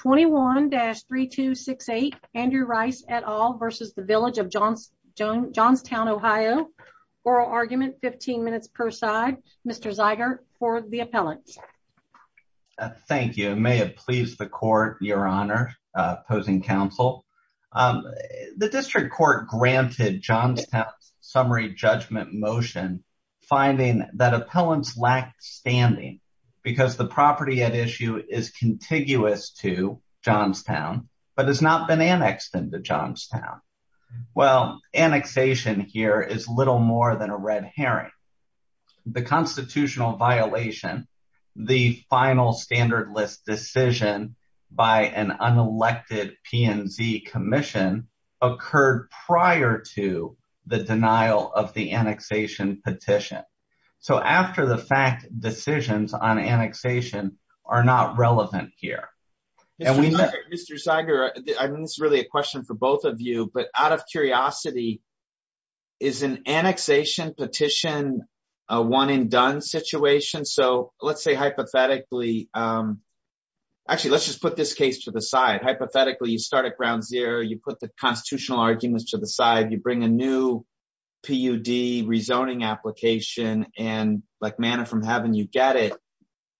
21-3268 Andrew Rice et al. v. The Village of Johnstown Ohio Oral Argument 15 minutes per side Mr. Zeiger for the appellants. Thank you it may have pleased the court your honor opposing counsel. The district court granted Johnstown's summary judgment motion finding that appellants lacked standing because the property issue is contiguous to Johnstown but has not been annexed into Johnstown. Well annexation here is little more than a red herring. The constitutional violation the final standard list decision by an unelected PNZ commission occurred prior to the denial of annexation petition. So after the fact decisions on annexation are not relevant here. Mr. Zeiger I mean this is really a question for both of you but out of curiosity is an annexation petition a one and done situation? So let's say hypothetically actually let's just put this case to the side. Hypothetically you start at ground zero you put the constitutional arguments to the side you bring a new PUD rezoning application and like manna from heaven you get it.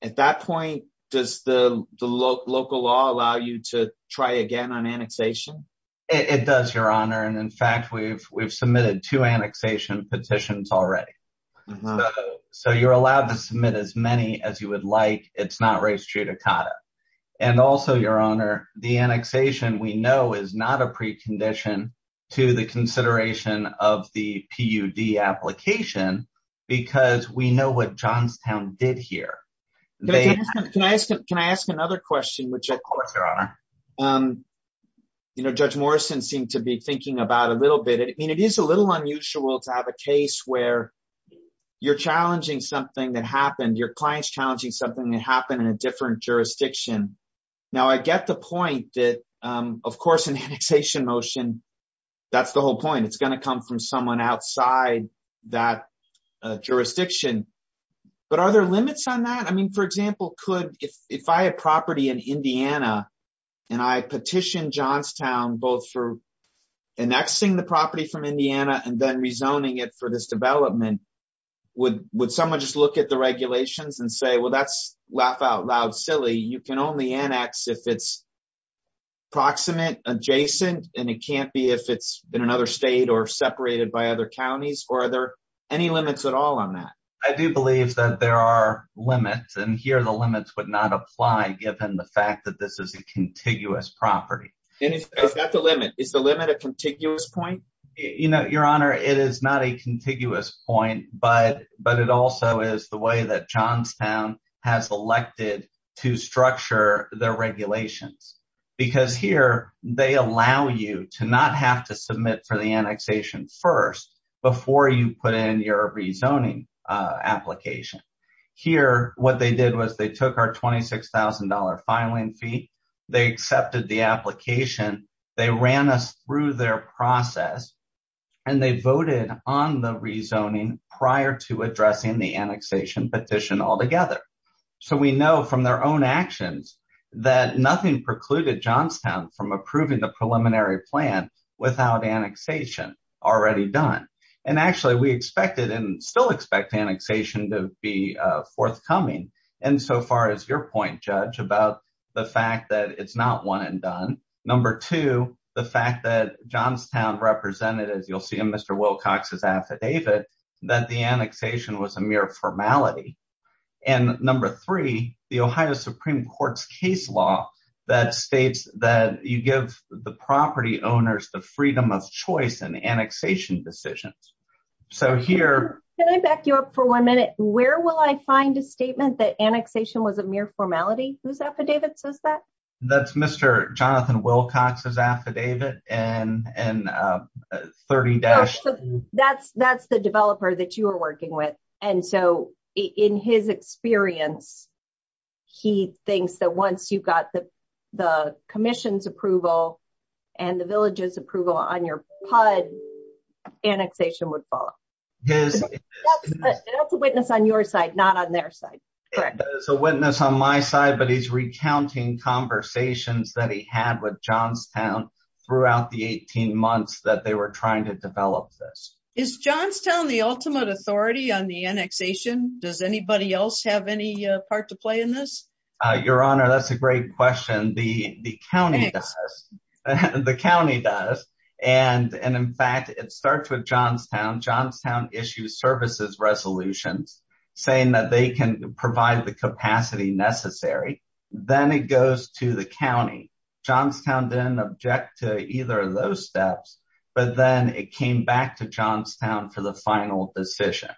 At that point does the local law allow you to try again on annexation? It does your honor and in fact we've submitted two annexation petitions already. So you're allowed to submit as many as you would like it's not res judicata. And also your honor the annexation we know is not a precondition to the consideration of the PUD application because we know what Johnstown did here. Can I ask another question? Of course your honor. You know Judge Morrison seemed to be thinking about a little bit I mean it is a little unusual to have a case where you're challenging something that happened your client's challenging something that happened in a different jurisdiction. Now I get the point that of course an annexation motion that's the whole point it's going to come from someone outside that jurisdiction but are there limits on that? I mean for example could if I had property in Indiana and I petitioned Johnstown both for annexing the property from Indiana and then rezoning it for this development would someone just look at the regulations and say well that's laugh out loud silly you can only annex if it's proximate adjacent and it can't be if it's in another state or separated by other counties or are there any limits at all on that? I do believe that there are limits and here the limits would not apply given the fact that this is a contiguous property. Is that the limit? Is the limit a contiguous point but it also is the way that Johnstown has elected to structure their regulations because here they allow you to not have to submit for the annexation first before you put in your rezoning application. Here what they did was they took our $26,000 filing fee they accepted the rezoning prior to addressing the annexation petition all together. So we know from their own actions that nothing precluded Johnstown from approving the preliminary plan without annexation already done and actually we expected and still expect annexation to be forthcoming and so far as your point judge about the fact that it's not one and done. Number two the fact that Johnstown represented as you'll see in Mr. Wilcox's affidavit that the annexation was a mere formality and number three the Ohio Supreme Court's case law that states that you give the property owners the freedom of choice and annexation decisions. So here can I back you up for one minute where will I find a statement that annexation was a mere formality whose affidavit says that? That's Mr. Jonathan Wilcox's affidavit and 30-2. That's the developer that you are working with and so in his experience he thinks that once you got the commission's approval and the village's approval on your PUD annexation would follow. That's a witness on your side not their side. There's a witness on my side but he's recounting conversations that he had with Johnstown throughout the 18 months that they were trying to develop this. Is Johnstown the ultimate authority on the annexation? Does anybody else have any part to play in this? Your honor that's a great question. The county does and in fact it starts with Johnstown. Johnstown issues services resolutions saying that they can provide the capacity necessary then it goes to the county. Johnstown didn't object to either of those steps but then it came back to Johnstown for the final decision.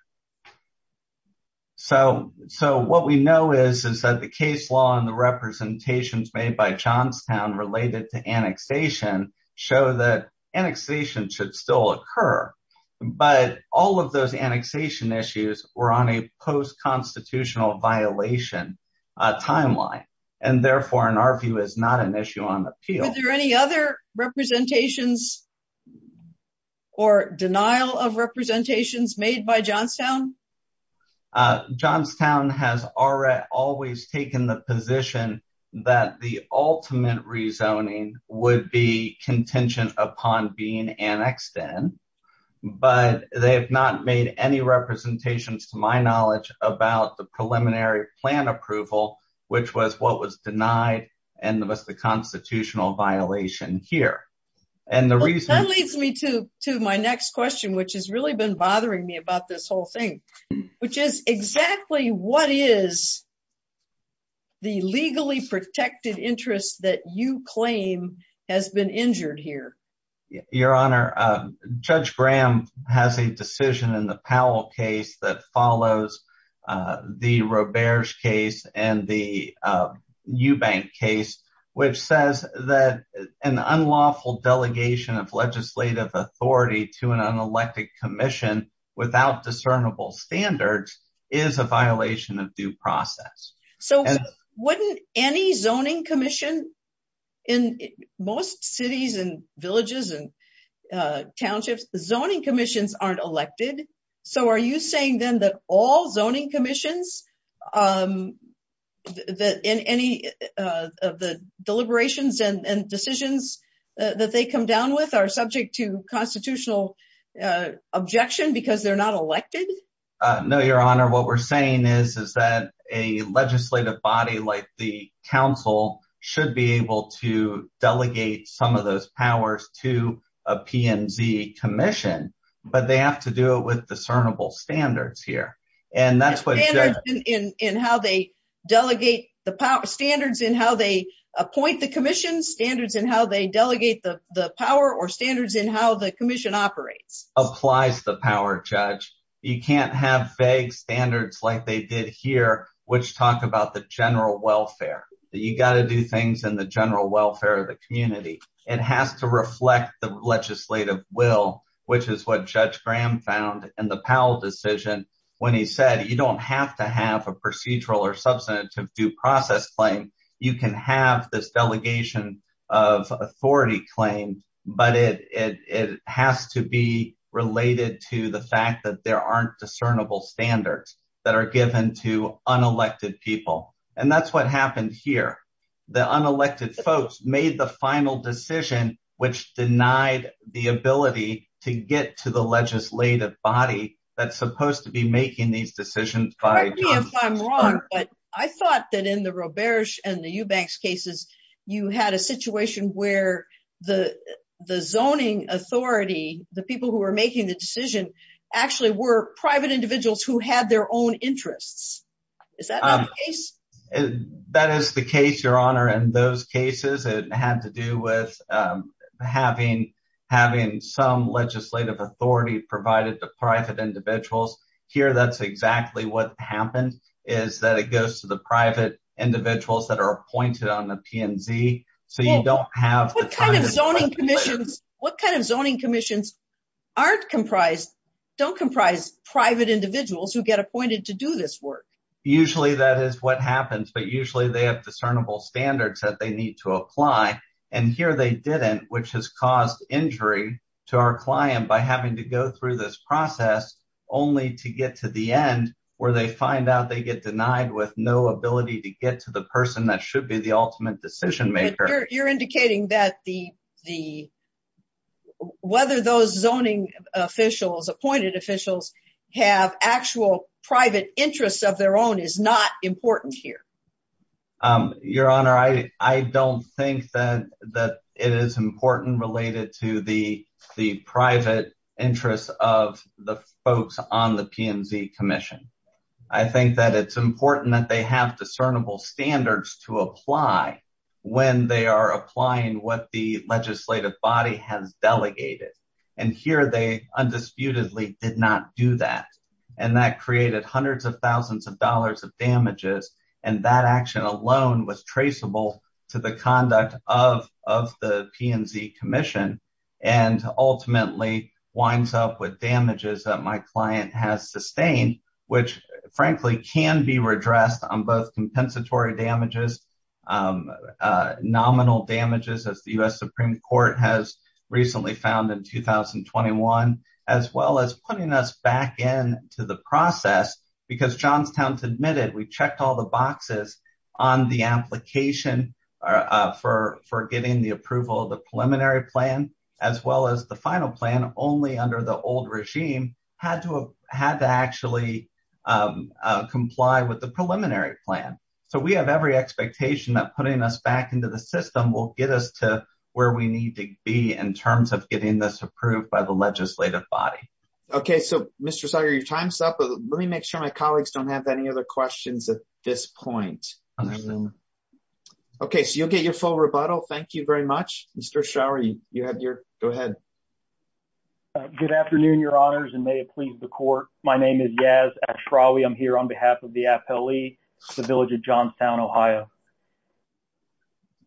So what we know is that the case law and the representations made by Johnstown related to annexation show that annexation should still occur but all of those annexation issues were on a post-constitutional violation timeline and therefore in our view is not an issue on the appeal. Are there any other representations or denial of representations made by Johnstown? Johnstown has already always taken the position that the ultimate rezoning would be contingent upon being annexed in but they have not made any representations to my knowledge about the preliminary plan approval which was what was denied and was the constitutional violation here. That leads me to my next question which has really been bothering me about this whole thing which is exactly what is the legally protected interest that you claim has been injured here? Your honor, Judge Graham has a decision in the Powell case that follows the Roberge case and the Eubank case which says that an unlawful delegation of legislative authority to an unconstitutional standard is a violation of due process. So wouldn't any zoning commission in most cities and villages and townships, the zoning commissions aren't elected so are you saying then that all zoning commissions that in any of the deliberations and decisions that they come down with are subject to constitutional objection because they're not elected? No your honor, what we're saying is that a legislative body like the council should be able to delegate some of those powers to a PNZ commission but they have to do it with discernible standards here. Standards in how they delegate the power, standards in how they appoint the commission, standards in how they delegate the power or standards in how the you can't have vague standards like they did here which talk about the general welfare. You got to do things in the general welfare of the community. It has to reflect the legislative will which is what Judge Graham found in the Powell decision when he said you don't have to have a procedural or substantive due process claim. You can have this delegation of authority claim but it has to related to the fact that there aren't discernible standards that are given to unelected people and that's what happened here. The unelected folks made the final decision which denied the ability to get to the legislative body that's supposed to be making these decisions. Correct me if I'm wrong but I thought that in the Roberge and the Eubanks cases you had a situation where the zoning authority, the people who were making the decision actually were private individuals who had their own interests. Is that not the case? That is the case your honor. In those cases it had to do with having some legislative authority provided to private individuals. Here that's exactly what happened is that it goes to the private individuals that are appointed on the PNZ. What kind of zoning commissions don't comprise private individuals who get appointed to do this work? Usually that is what happens but usually they have discernible standards that they need to apply and here they didn't which has caused injury to our client by having to go through this process only to get to the end where they find out they get denied with no ability to get to the person that should be the ultimate decision maker. You're indicating that whether those zoning officials, appointed officials, have actual private interests of their own is not important here. Your honor, I don't think that it is important related to the discernible standards to apply when they are applying what the legislative body has delegated and here they undisputedly did not do that and that created hundreds of thousands of dollars of damages and that action alone was traceable to the conduct of the PNZ commission and ultimately winds up with damages that my client has sustained which frankly can be redressed on both compensatory damages, nominal damages as the U.S. Supreme Court has recently found in 2021, as well as putting us back into the process because Johnstown admitted we checked all the boxes on the application for getting the approval of the preliminary plan as well as the final plan only under the old regime had to have had to actually comply with the preliminary plan. So we have every expectation that putting us back into the system will get us to where we need to be in terms of getting this approved by the legislative body. Okay so Mr. Sauer your time's up but let me make sure my colleagues don't have any other questions at this point. Okay so you'll get your full rebuttal thank you very much. Mr. Schauer you Good afternoon your honors and may it please the court my name is Yaz Ashrawi I'm here on behalf of the appellee the village of Johnstown, Ohio.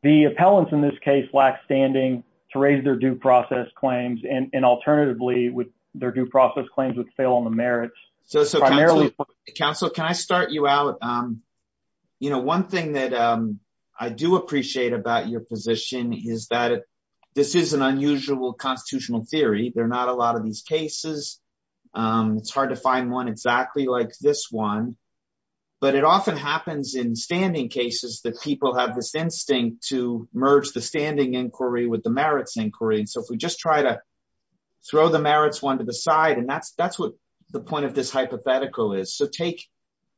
The appellants in this case lack standing to raise their due process claims and alternatively with their due process claims would fail on the merits. So council can I start you out you know one thing that I do appreciate about your position is that this is an unusual constitutional theory there are not a lot of these cases it's hard to find one exactly like this one but it often happens in standing cases that people have this instinct to merge the standing inquiry with the merits inquiry and so if we just try to throw the merits one to the side and that's that's what the point of this hypothetical is. So take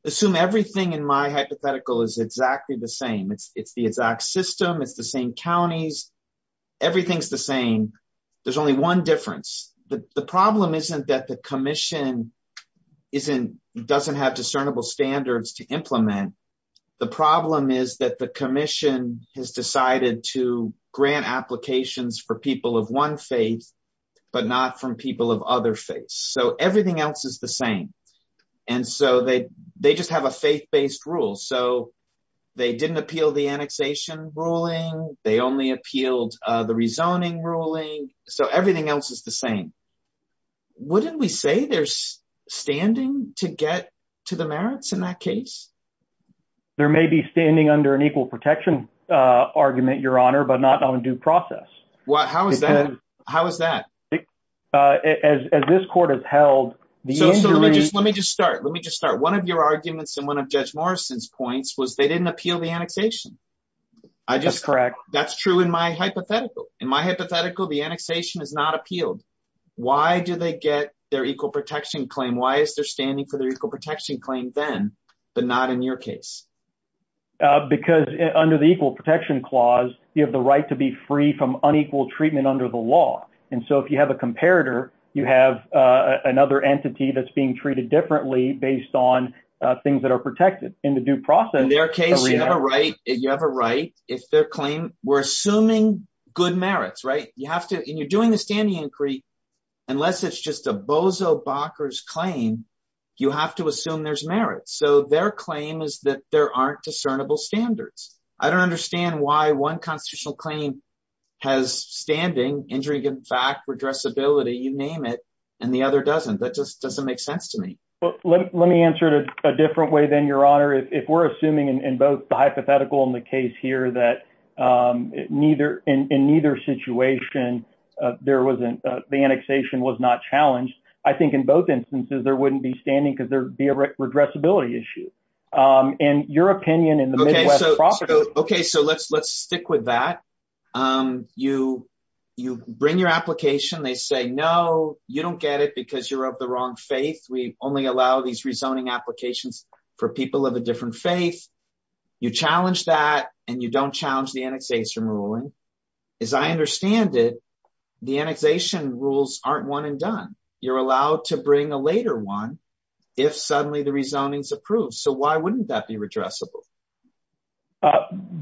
assume everything in my hypothetical is exactly the same it's it's the exact system it's the same counties everything's the same there's only one difference the problem isn't that the commission isn't doesn't have discernible standards to implement the problem is that the commission has decided to grant applications for people of one faith but not from people of other faiths so everything else is the same and so they they just have a faith-based rule so they didn't appeal the annexation ruling they only appealed the rezoning ruling so everything else is the same. Wouldn't we say there's standing to get to the merits in that case? There may be standing under an equal protection argument your honor but not on due process. Well how is that how is that? As this court has held the injury. Let me just start let me just start one of your arguments and one of Judge Morrison's points was they didn't appeal the annexation. I just correct that's true in my hypothetical in my hypothetical the annexation is not appealed why do they get their equal protection claim why is there standing for their equal protection claim then but not in your case? Because under the equal protection clause you have the right to be free from unequal treatment under the law and so if you have a comparator you have another entity that's being treated differently based on things that are protected in the due process. In their case you have a right you have a right if their claim we're assuming good merits right you have to and you're doing the standing inquiry unless it's just a bozo bockers claim you have to assume there's merit so their claim is that there aren't discernible standards. I don't understand why one constitutional claim has standing injury in fact redressability you name it and the other doesn't that just doesn't make sense to me. Well let me answer it a different way than your honor if we're assuming in both the hypothetical and the case here that neither in neither situation there wasn't the annexation was not challenged I think in both instances there wouldn't be standing because there'd be a redressability issue and your opinion in the midwest. Okay so let's let's stick with that you bring your application they say no you don't get it because you're the wrong faith we only allow these rezoning applications for people of a different faith you challenge that and you don't challenge the annexation ruling as I understand it the annexation rules aren't one and done you're allowed to bring a later one if suddenly the rezoning's approved so why wouldn't that be redressable?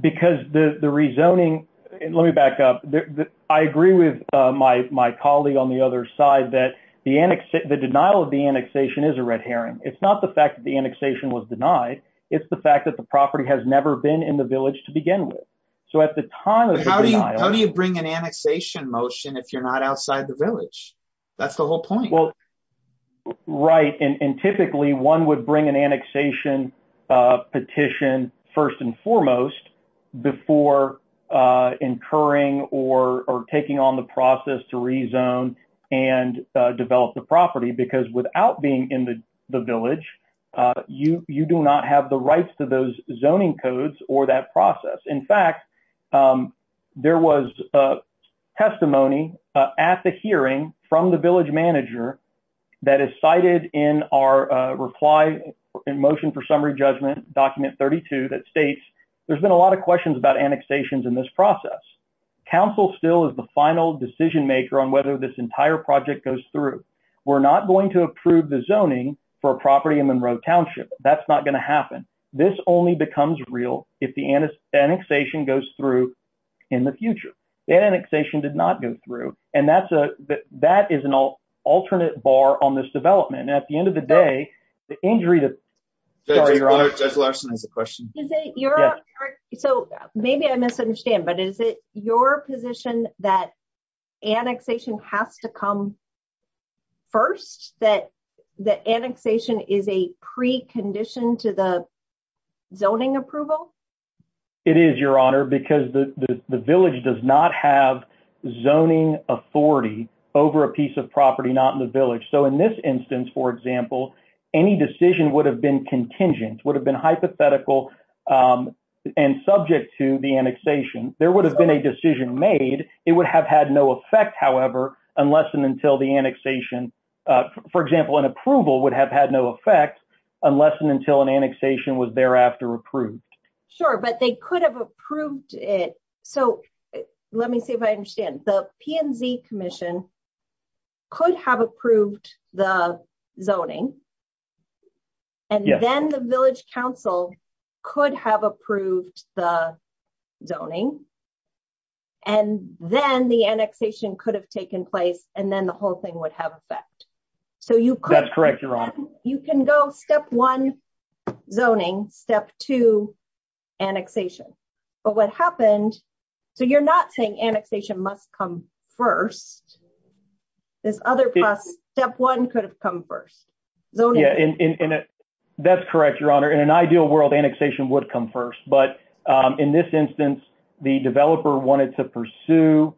Because the the rezoning and let me back up I agree with my my colleague on the other side that the annex the denial of the annexation is a red herring it's not the fact that the annexation was denied it's the fact that the property has never been in the village to begin with so at the time. How do you bring an annexation motion if you're not outside the village that's the whole point. Well right and or taking on the process to rezone and develop the property because without being in the the village you you do not have the rights to those zoning codes or that process. In fact there was a testimony at the hearing from the village manager that is cited in our reply in motion for summary judgment document 32 that states there's been a lot of questions about annexations in this process. Council still is the final decision maker on whether this entire project goes through. We're not going to approve the zoning for a property in Monroe Township that's not going to happen. This only becomes real if the annexation goes through in the future. That annexation did not go through and that's a that is an alternate bar on this development and at the end of the day the injury that. Judge Larson has a question. So maybe I misunderstand but is it your position that annexation has to come first that the annexation is a precondition to the zoning approval? It is your honor because the the village does not have any decision would have been contingent would have been hypothetical and subject to the annexation. There would have been a decision made it would have had no effect however unless and until the annexation for example an approval would have had no effect unless and until an annexation was thereafter approved. Sure but they could have approved it so let me see if I commission could have approved the zoning and then the village council could have approved the zoning and then the annexation could have taken place and then the whole thing would have effect. So you correct you're on you can go step one zoning step two annexation but what happened so you're not saying annexation must come first this other process step one could have come first. That's correct your honor in an ideal world annexation would come first but in this instance the developer wanted to pursue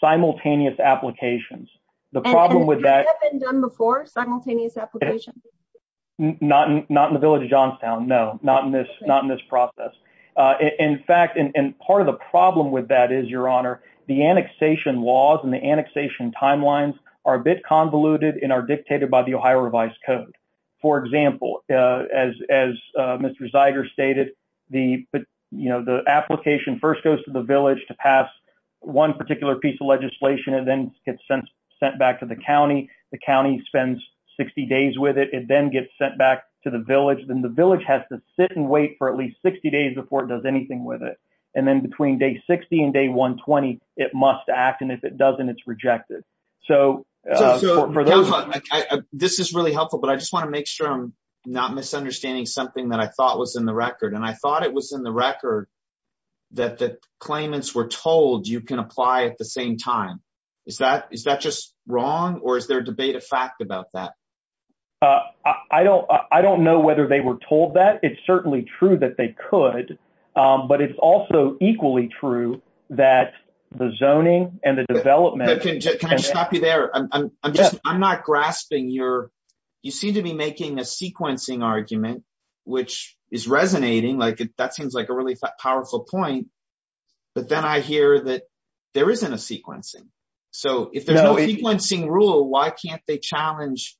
simultaneous applications the problem with that. Has that been done before simultaneous application? Not in the village of Johnstown no not in this process. In fact and part of the problem with that is your honor the annexation laws and the annexation timelines are a bit convoluted and are dictated by the Ohio revised code. For example as as Mr. Zeiger stated the you know the application first goes to the village to pass one particular piece of legislation and then gets sent sent back to the county the county spends 60 with it it then gets sent back to the village then the village has to sit and wait for at least 60 days before it does anything with it and then between day 60 and day 120 it must act and if it doesn't it's rejected. So this is really helpful but I just want to make sure I'm not misunderstanding something that I thought was in the record and I thought it was in the record that the claimants were told you can apply at the same time is that is that just wrong or is debate a fact about that? I don't I don't know whether they were told that it's certainly true that they could but it's also equally true that the zoning and the development. Can I stop you there I'm just I'm not grasping your you seem to be making a sequencing argument which is resonating like that seems like a really powerful point but then I hear that there isn't a sequencing so if there's no sequencing rule why can't they challenge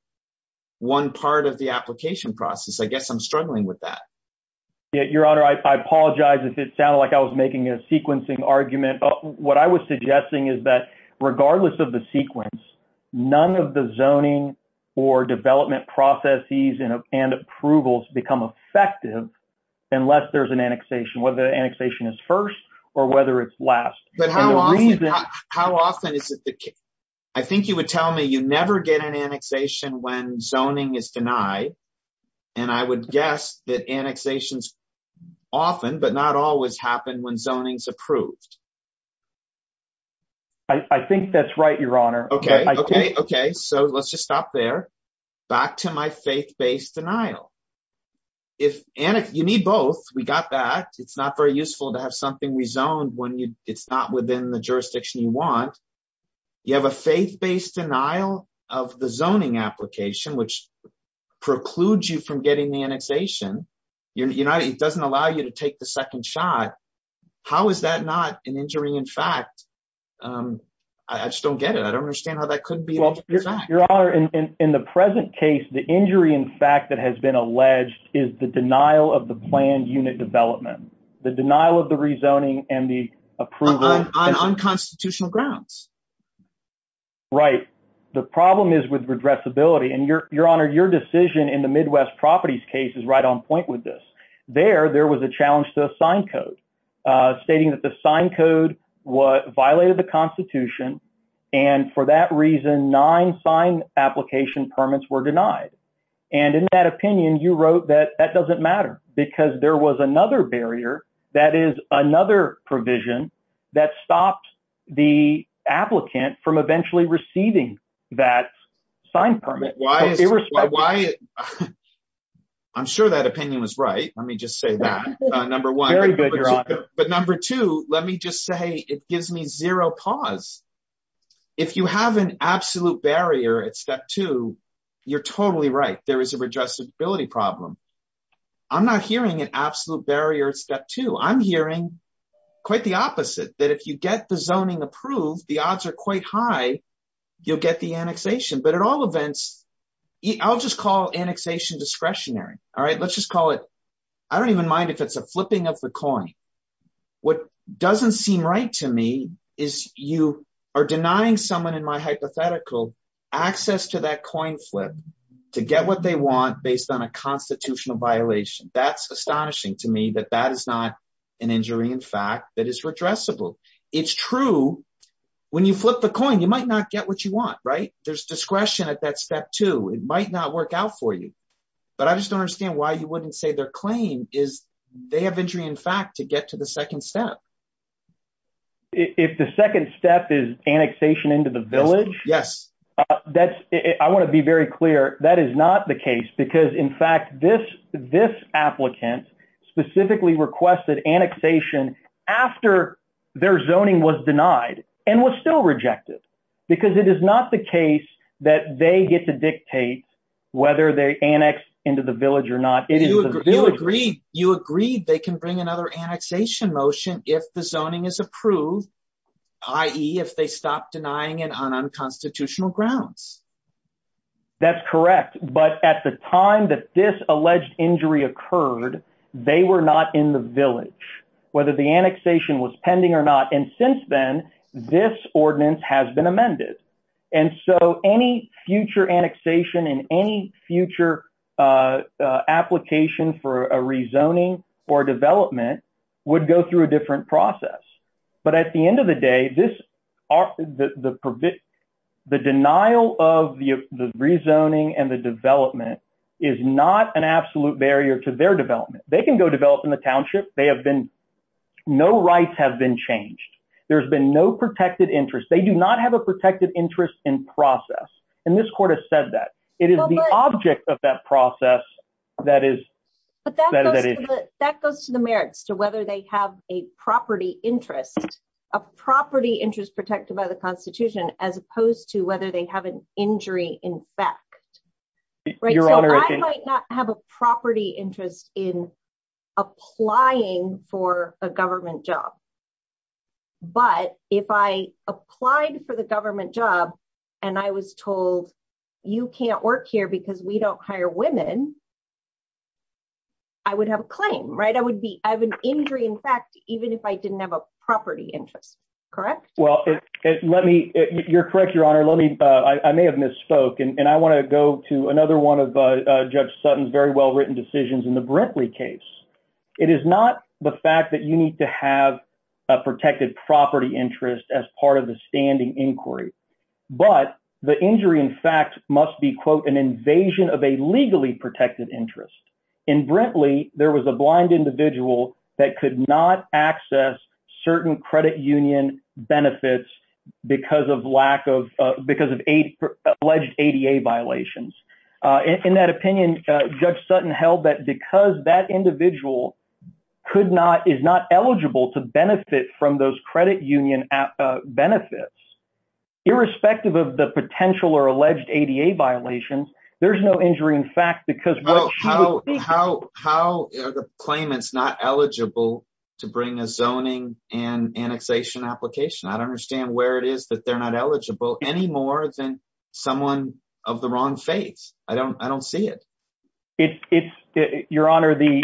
one part of the application process I guess I'm struggling with that. Yeah your honor I apologize if it sounded like I was making a sequencing argument what I was suggesting is that regardless of the sequence none of the zoning or development processes and approvals become effective unless there's an annexation whether annexation is first or whether it's last. But how often is it the case I think you would tell me you never get an annexation when zoning is denied and I would guess that annexations often but not always happen when zoning is approved. I think that's right your honor. Okay okay okay so let's just stop there back to my faith-based denial if and if you need both we got that it's not very useful to have something rezoned when you it's not within the jurisdiction you want you have a faith-based denial of the zoning application which precludes you from getting the annexation you're not it doesn't allow you to take the second shot how is that not an injury in fact I just don't get it I don't understand how that could be your honor in in the present case the injury in fact that has been alleged is the denial of the planned unit development the denial of the rezoning and the approval on unconstitutional grounds right the problem is with redressability and your your honor your decision in the midwest properties case is right on point with this there there was a challenge to a sign code stating that the sign code what violated the constitution and for that reason nine sign application permits were denied and in that opinion you wrote that that doesn't matter because there was another barrier that is another provision that stopped the applicant from eventually receiving that sign permit why I'm sure that opinion was right let me just say that number one very good but number two let me just say it gives me zero pause if you have an absolute barrier at step two you're totally right there is a redressability problem I'm not hearing an absolute barrier at step two I'm hearing quite the opposite that if you get the zoning approved the odds are quite high you'll get the annexation but at all events I'll just call annexation discretionary all right let's just I don't even mind if it's a flipping of the coin what doesn't seem right to me is you are denying someone in my hypothetical access to that coin flip to get what they want based on a constitutional violation that's astonishing to me that that is not an injury in fact that is redressable it's true when you flip the coin you might not get what you want right there's discretion at that is they have injury in fact to get to the second step if the second step is annexation into the village yes that's I want to be very clear that is not the case because in fact this this applicant specifically requested annexation after their zoning was denied and was still rejected because it is not the case that they get to dictate whether they annex into the village or it is you agree you agreed they can bring another annexation motion if the zoning is approved i.e. if they stop denying it on unconstitutional grounds that's correct but at the time that this alleged injury occurred they were not in the village whether the annexation was pending or not and since then this ordinance has been amended and so any future annexation in any future uh application for a rezoning or development would go through a different process but at the end of the day this are the the the denial of the the rezoning and the development is not an absolute barrier to their development they can go develop in the township they have been no rights have been changed there's been no protected interest they do not have a protected interest in process and this court has said that it is the object of that process that is but that goes to the merits to whether they have a property interest a property interest protected by the constitution as opposed to whether they have an injury in fact right so i might not have a property interest in applying for a government job but if i applied for the government job and i was told you can't work here because we don't hire women i would have a claim right i would be i have an injury in fact even if i didn't have a property interest correct well let me you're correct your honor let me uh i may have misspoke and i want to go to another one of uh judge sutton's very well written decisions in the brinkley case it is not the fact that you need to have a protected property interest as part of the standing inquiry but the injury in fact must be quote an invasion of a legally protected interest in brinkley there was a blind individual that could not access certain credit union benefits because of lack of because of eight alleged ada violations uh in that opinion judge sutton held that because that individual could not is not eligible to benefit from those credit union benefits irrespective of the potential or alleged ada violations there's no injury in fact because how how how are the claimants not eligible to bring a zoning and annexation application i don't understand where it is that they're not eligible any more than someone of the wrong faiths i don't i don't see it it's it's your honor the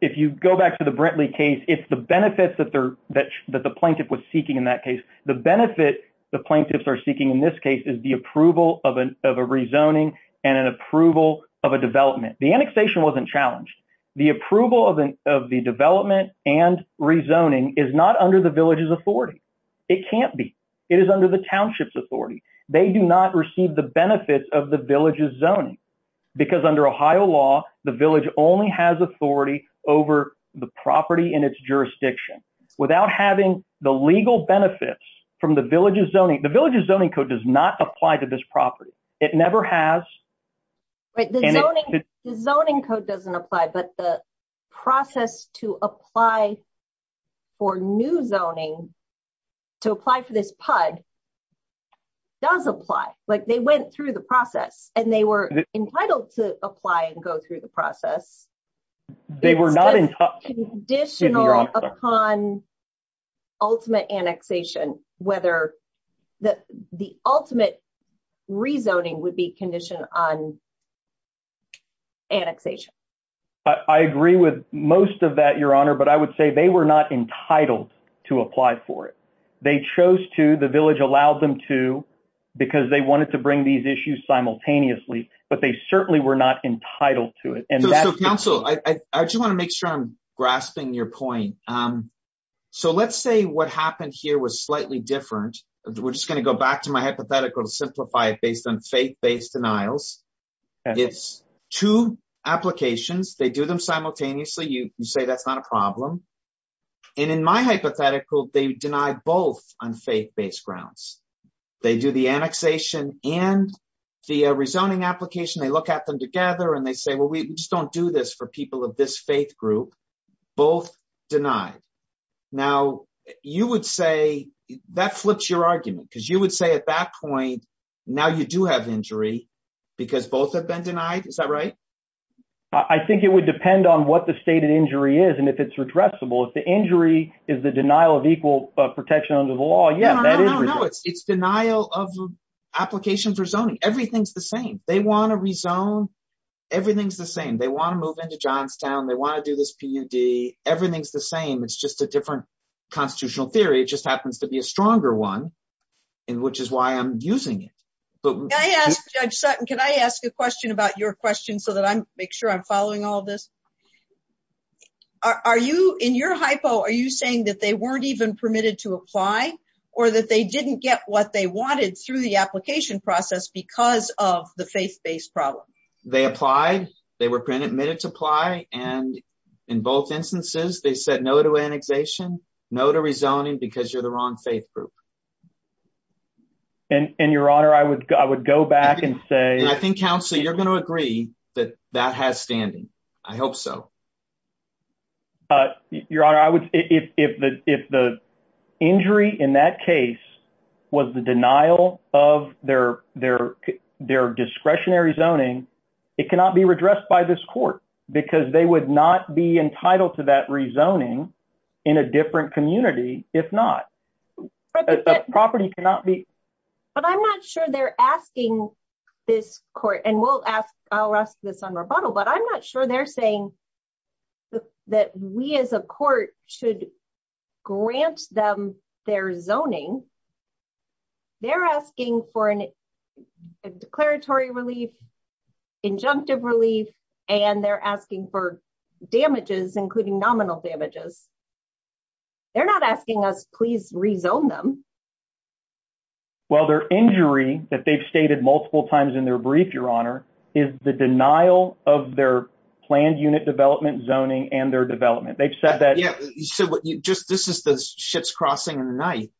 if you go back to the brinkley case it's the benefits that they're that that the plaintiff was seeking in that case the benefit the plaintiffs are seeking in this case is the approval of an of a rezoning and an approval of a development the annexation wasn't challenged the approval of an of the development and rezoning is not under the village's authority it can't be it is under the township's authority they do not receive the benefits of the village's zoning because under ohio law the village only has authority over the property in its jurisdiction without having the legal benefits from the village's zoning the village's zoning code does not apply to this property it never has right the zoning the zoning code doesn't apply but the process to apply for new zoning to apply for this pud does apply like they went through the process and they were entitled to apply and go through the process they were not conditional upon ultimate annexation whether the the ultimate rezoning would be conditioned on annexation i agree with most of that your honor but i would say they were not entitled to apply for it they chose to the village allowed them to because they wanted to bring these issues simultaneously but they certainly were not entitled to it and so council i i just want to make sure i'm grasping your point um so let's say what happened here was slightly different we're just going to go back to my hypothetical to simplify it based on faith-based denials it's two applications they do them simultaneously you say that's not a problem and in my hypothetical they deny both on faith-based grounds they do the annexation and the rezoning application they look at them together and they say well we just don't do this for people of this faith group both denied now you would say that flips your argument because would say at that point now you do have injury because both have been denied is that right i think it would depend on what the stated injury is and if it's redressable if the injury is the denial of equal protection under the law yeah that is no it's it's denial of application for zoning everything's the same they want to rezone everything's the same they want to move into johnstown they want to do this pud everything's the same it's just a different constitutional theory it just happens to be a stronger one and which is why i'm using it but i ask judge sutton can i ask a question about your question so that i make sure i'm following all this are you in your hypo are you saying that they weren't even permitted to apply or that they didn't get what they wanted through the application process because of the faith-based problem they applied they were pre-admitted to apply and in both instances they said no to annexation no to rezoning because you're the wrong faith group and your honor i would i would go back and say i think counsel you're going to agree that that has standing i hope so uh your honor i would if the if the injury in that case was the denial of their their their discretionary zoning it cannot be redressed by this court because they would not be entitled to that rezoning in a different community if not a property cannot be but i'm not sure they're asking this court and we'll ask i'll ask this on rebuttal but i'm not sure they're saying that we as a court should grant them their zoning they're asking for an declaratory relief injunctive relief and they're asking for damages including nominal damages they're not asking us please rezone them well their injury that they've stated multiple times in their brief your honor is the denial of their planned unit development zoning and their development they've said that yeah you said what you just this is the ship's crossing or night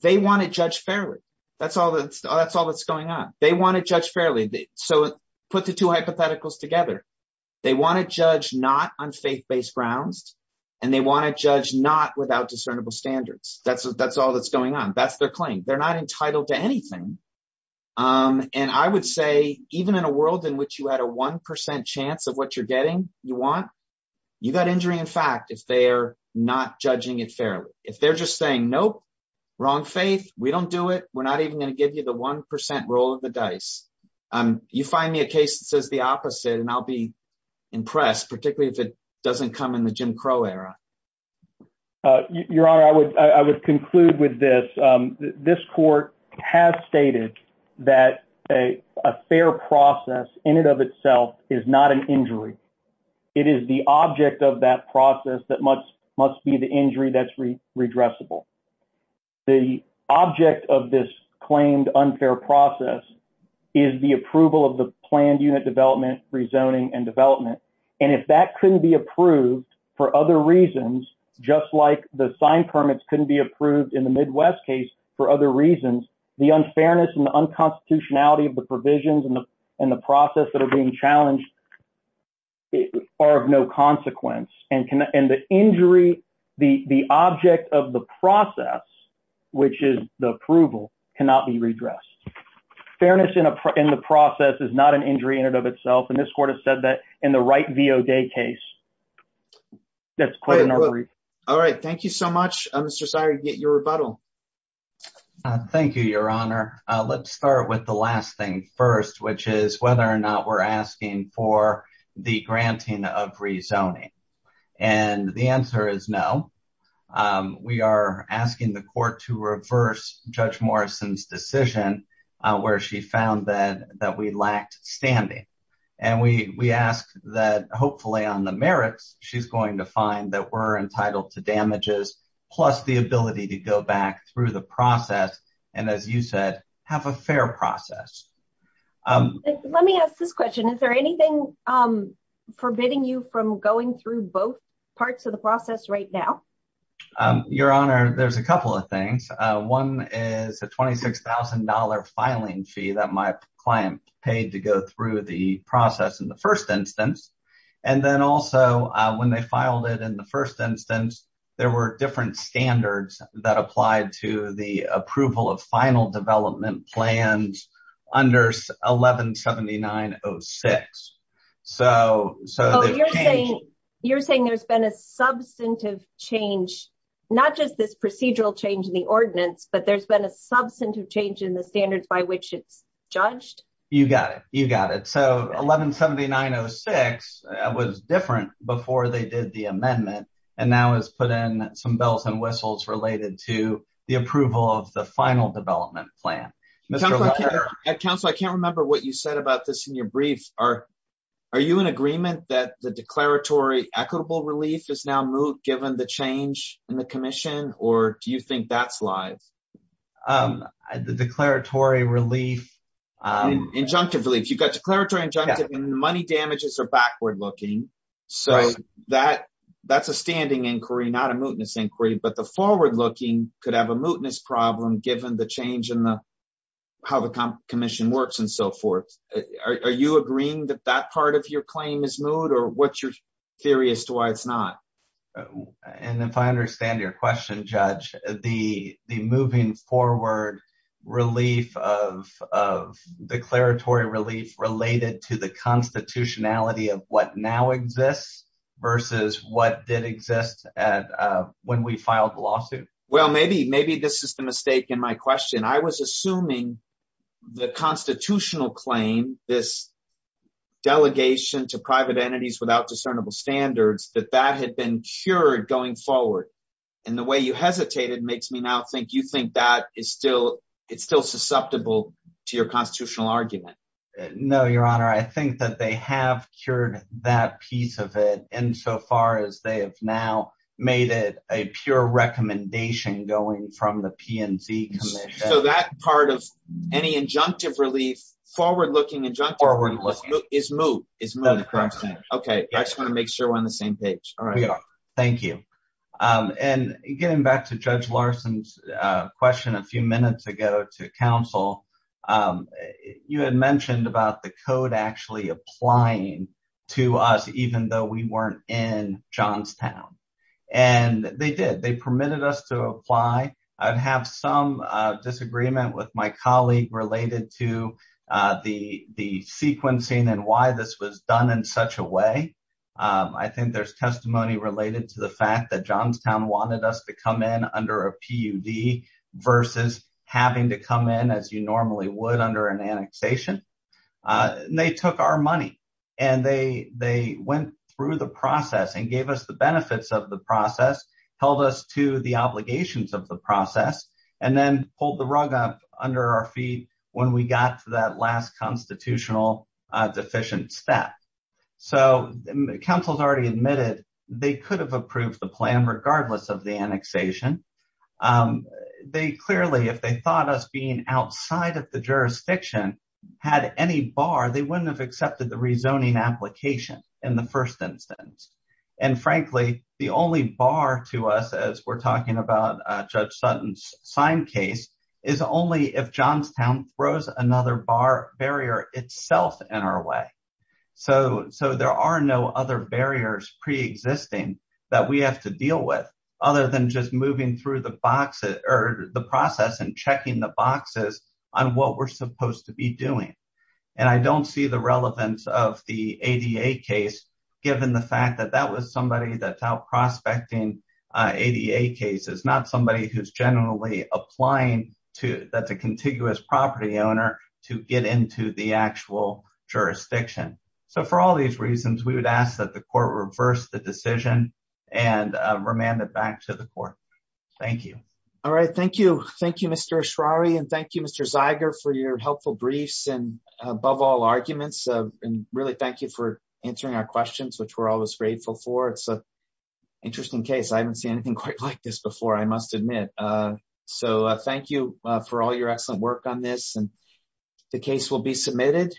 they want to judge fairly that's all that's all that's going on they want to judge fairly so put the two hypotheticals together they want to judge not on faith-based grounds and they want to judge not without discernible standards that's that's all that's going on that's their claim they're not entitled to anything um and i would say even in a world in which you had a one percent chance of what you're getting you want you got injury in fact if they're not judging it fairly if they're just saying nope wrong faith we don't do it we're not even going to give you the one roll of the dice um you find me a case that says the opposite and i'll be impressed particularly if it doesn't come in the jim crow era uh your honor i would i would conclude with this um this court has stated that a a fair process in and of itself is not an injury it is the object of that process that must must be the injury that's redressable the object of this claimed unfair process is the approval of the planned unit development rezoning and development and if that couldn't be approved for other reasons just like the sign permits couldn't be approved in the midwest case for other reasons the unfairness and the unconstitutionality of the provisions and the and the process that are being challenged are of no consequence and can and the injury the the object of the process which is the approval cannot be redressed fairness in a in the process is not an injury in and of itself and this court has said that in the right vo day case that's quite all right thank you so much mr sire get your rebuttal thank you your honor let's start with the last thing first which is whether or not we're asking for the granting of rezoning and the answer is no um we are asking the court to reverse judge morrison's decision where she found that that we lacked standing and we we ask that hopefully on the merits she's going to find that we're entitled to damages plus the ability to go back through the process and as you said have a fair process um let me ask this question is there anything um forbidding you from going through both parts of the process right now um your honor there's a couple of things uh one is a 26 000 filing fee that my client paid to go through the process in the first instance and then also when they filed it in the first instance there were different standards that applied to the approval of final development plans under 11 79 06 so so you're saying you're saying there's been a substantive change not just this procedural change in the ordinance but there's been a substantive change in the standards by which it's judged you got it you got it so 11 79 06 was different before they did the amendment and now has put in some bells and whistles related to the approval of the final development plan at council i can't remember what you said about this in your brief are are you in agreement that the declaratory equitable relief is now moot given the change in the commission or do you think that's live um the declaratory relief um injunctive relief you've got declaratory injunctive and money damages are backward looking so that that's a standing inquiry not a mootness inquiry but the commission works and so forth are you agreeing that that part of your claim is moot or what's your theory as to why it's not and if i understand your question judge the the moving forward relief of of declaratory relief related to the constitutionality of what now exists versus what did exist at uh when we filed the lawsuit well maybe maybe this is the mistake in my question i was assuming the constitutional claim this delegation to private entities without discernible standards that that had been cured going forward and the way you hesitated makes me now think you think that is still it's still susceptible to your constitutional argument no your honor i think that they have cured that piece of it insofar as they have now made it a pure recommendation going from the pnz commission so that part of any injunctive relief forward looking injunction is moot is okay i just want to make sure we're on the same page all right thank you um and getting back to judge larson's uh question a few minutes ago to council um you had mentioned about the code actually applying to us even though we weren't in johnstown and they did they permitted us to apply i'd have some uh disagreement with my colleague related to uh the the sequencing and why this was done in such a way i think there's testimony related to the fact that johnstown wanted us to come in under a pud versus having to come in as you normally would under an annexation they took our money and they they went through the process and gave us the benefits of the process held us to the obligations of the process and then pulled the rug up under our feet when we got to that last constitutional uh deficient step so the council's already admitted they could have approved the plan regardless of the annexation um they clearly if they thought us being outside of the jurisdiction had any bar they wouldn't have accepted the rezoning application in the first instance and frankly the only bar to us as we're talking about uh judge sutton's sign case is only if johnstown throws another bar barrier itself in our way so so there are no other barriers pre-existing that we have to deal with other than just moving through the box or the process and checking the boxes on what we're supposed to be doing and i don't see the relevance of the ada case given the fact that that was somebody that's out prospecting uh ada case is not somebody who's generally applying to that's a contiguous property owner to get into the actual jurisdiction so for all these reasons we would ask that the court reverse the decision and remand it back to the court thank you all right thank you thank you mr ashrari and thank you mr zeiger for your helpful briefs and above all arguments and really thank you for answering our questions which we're always grateful for it's a interesting case i haven't seen anything quite like this before i must admit uh so thank you uh for all your excellent work on this and the case will be submitted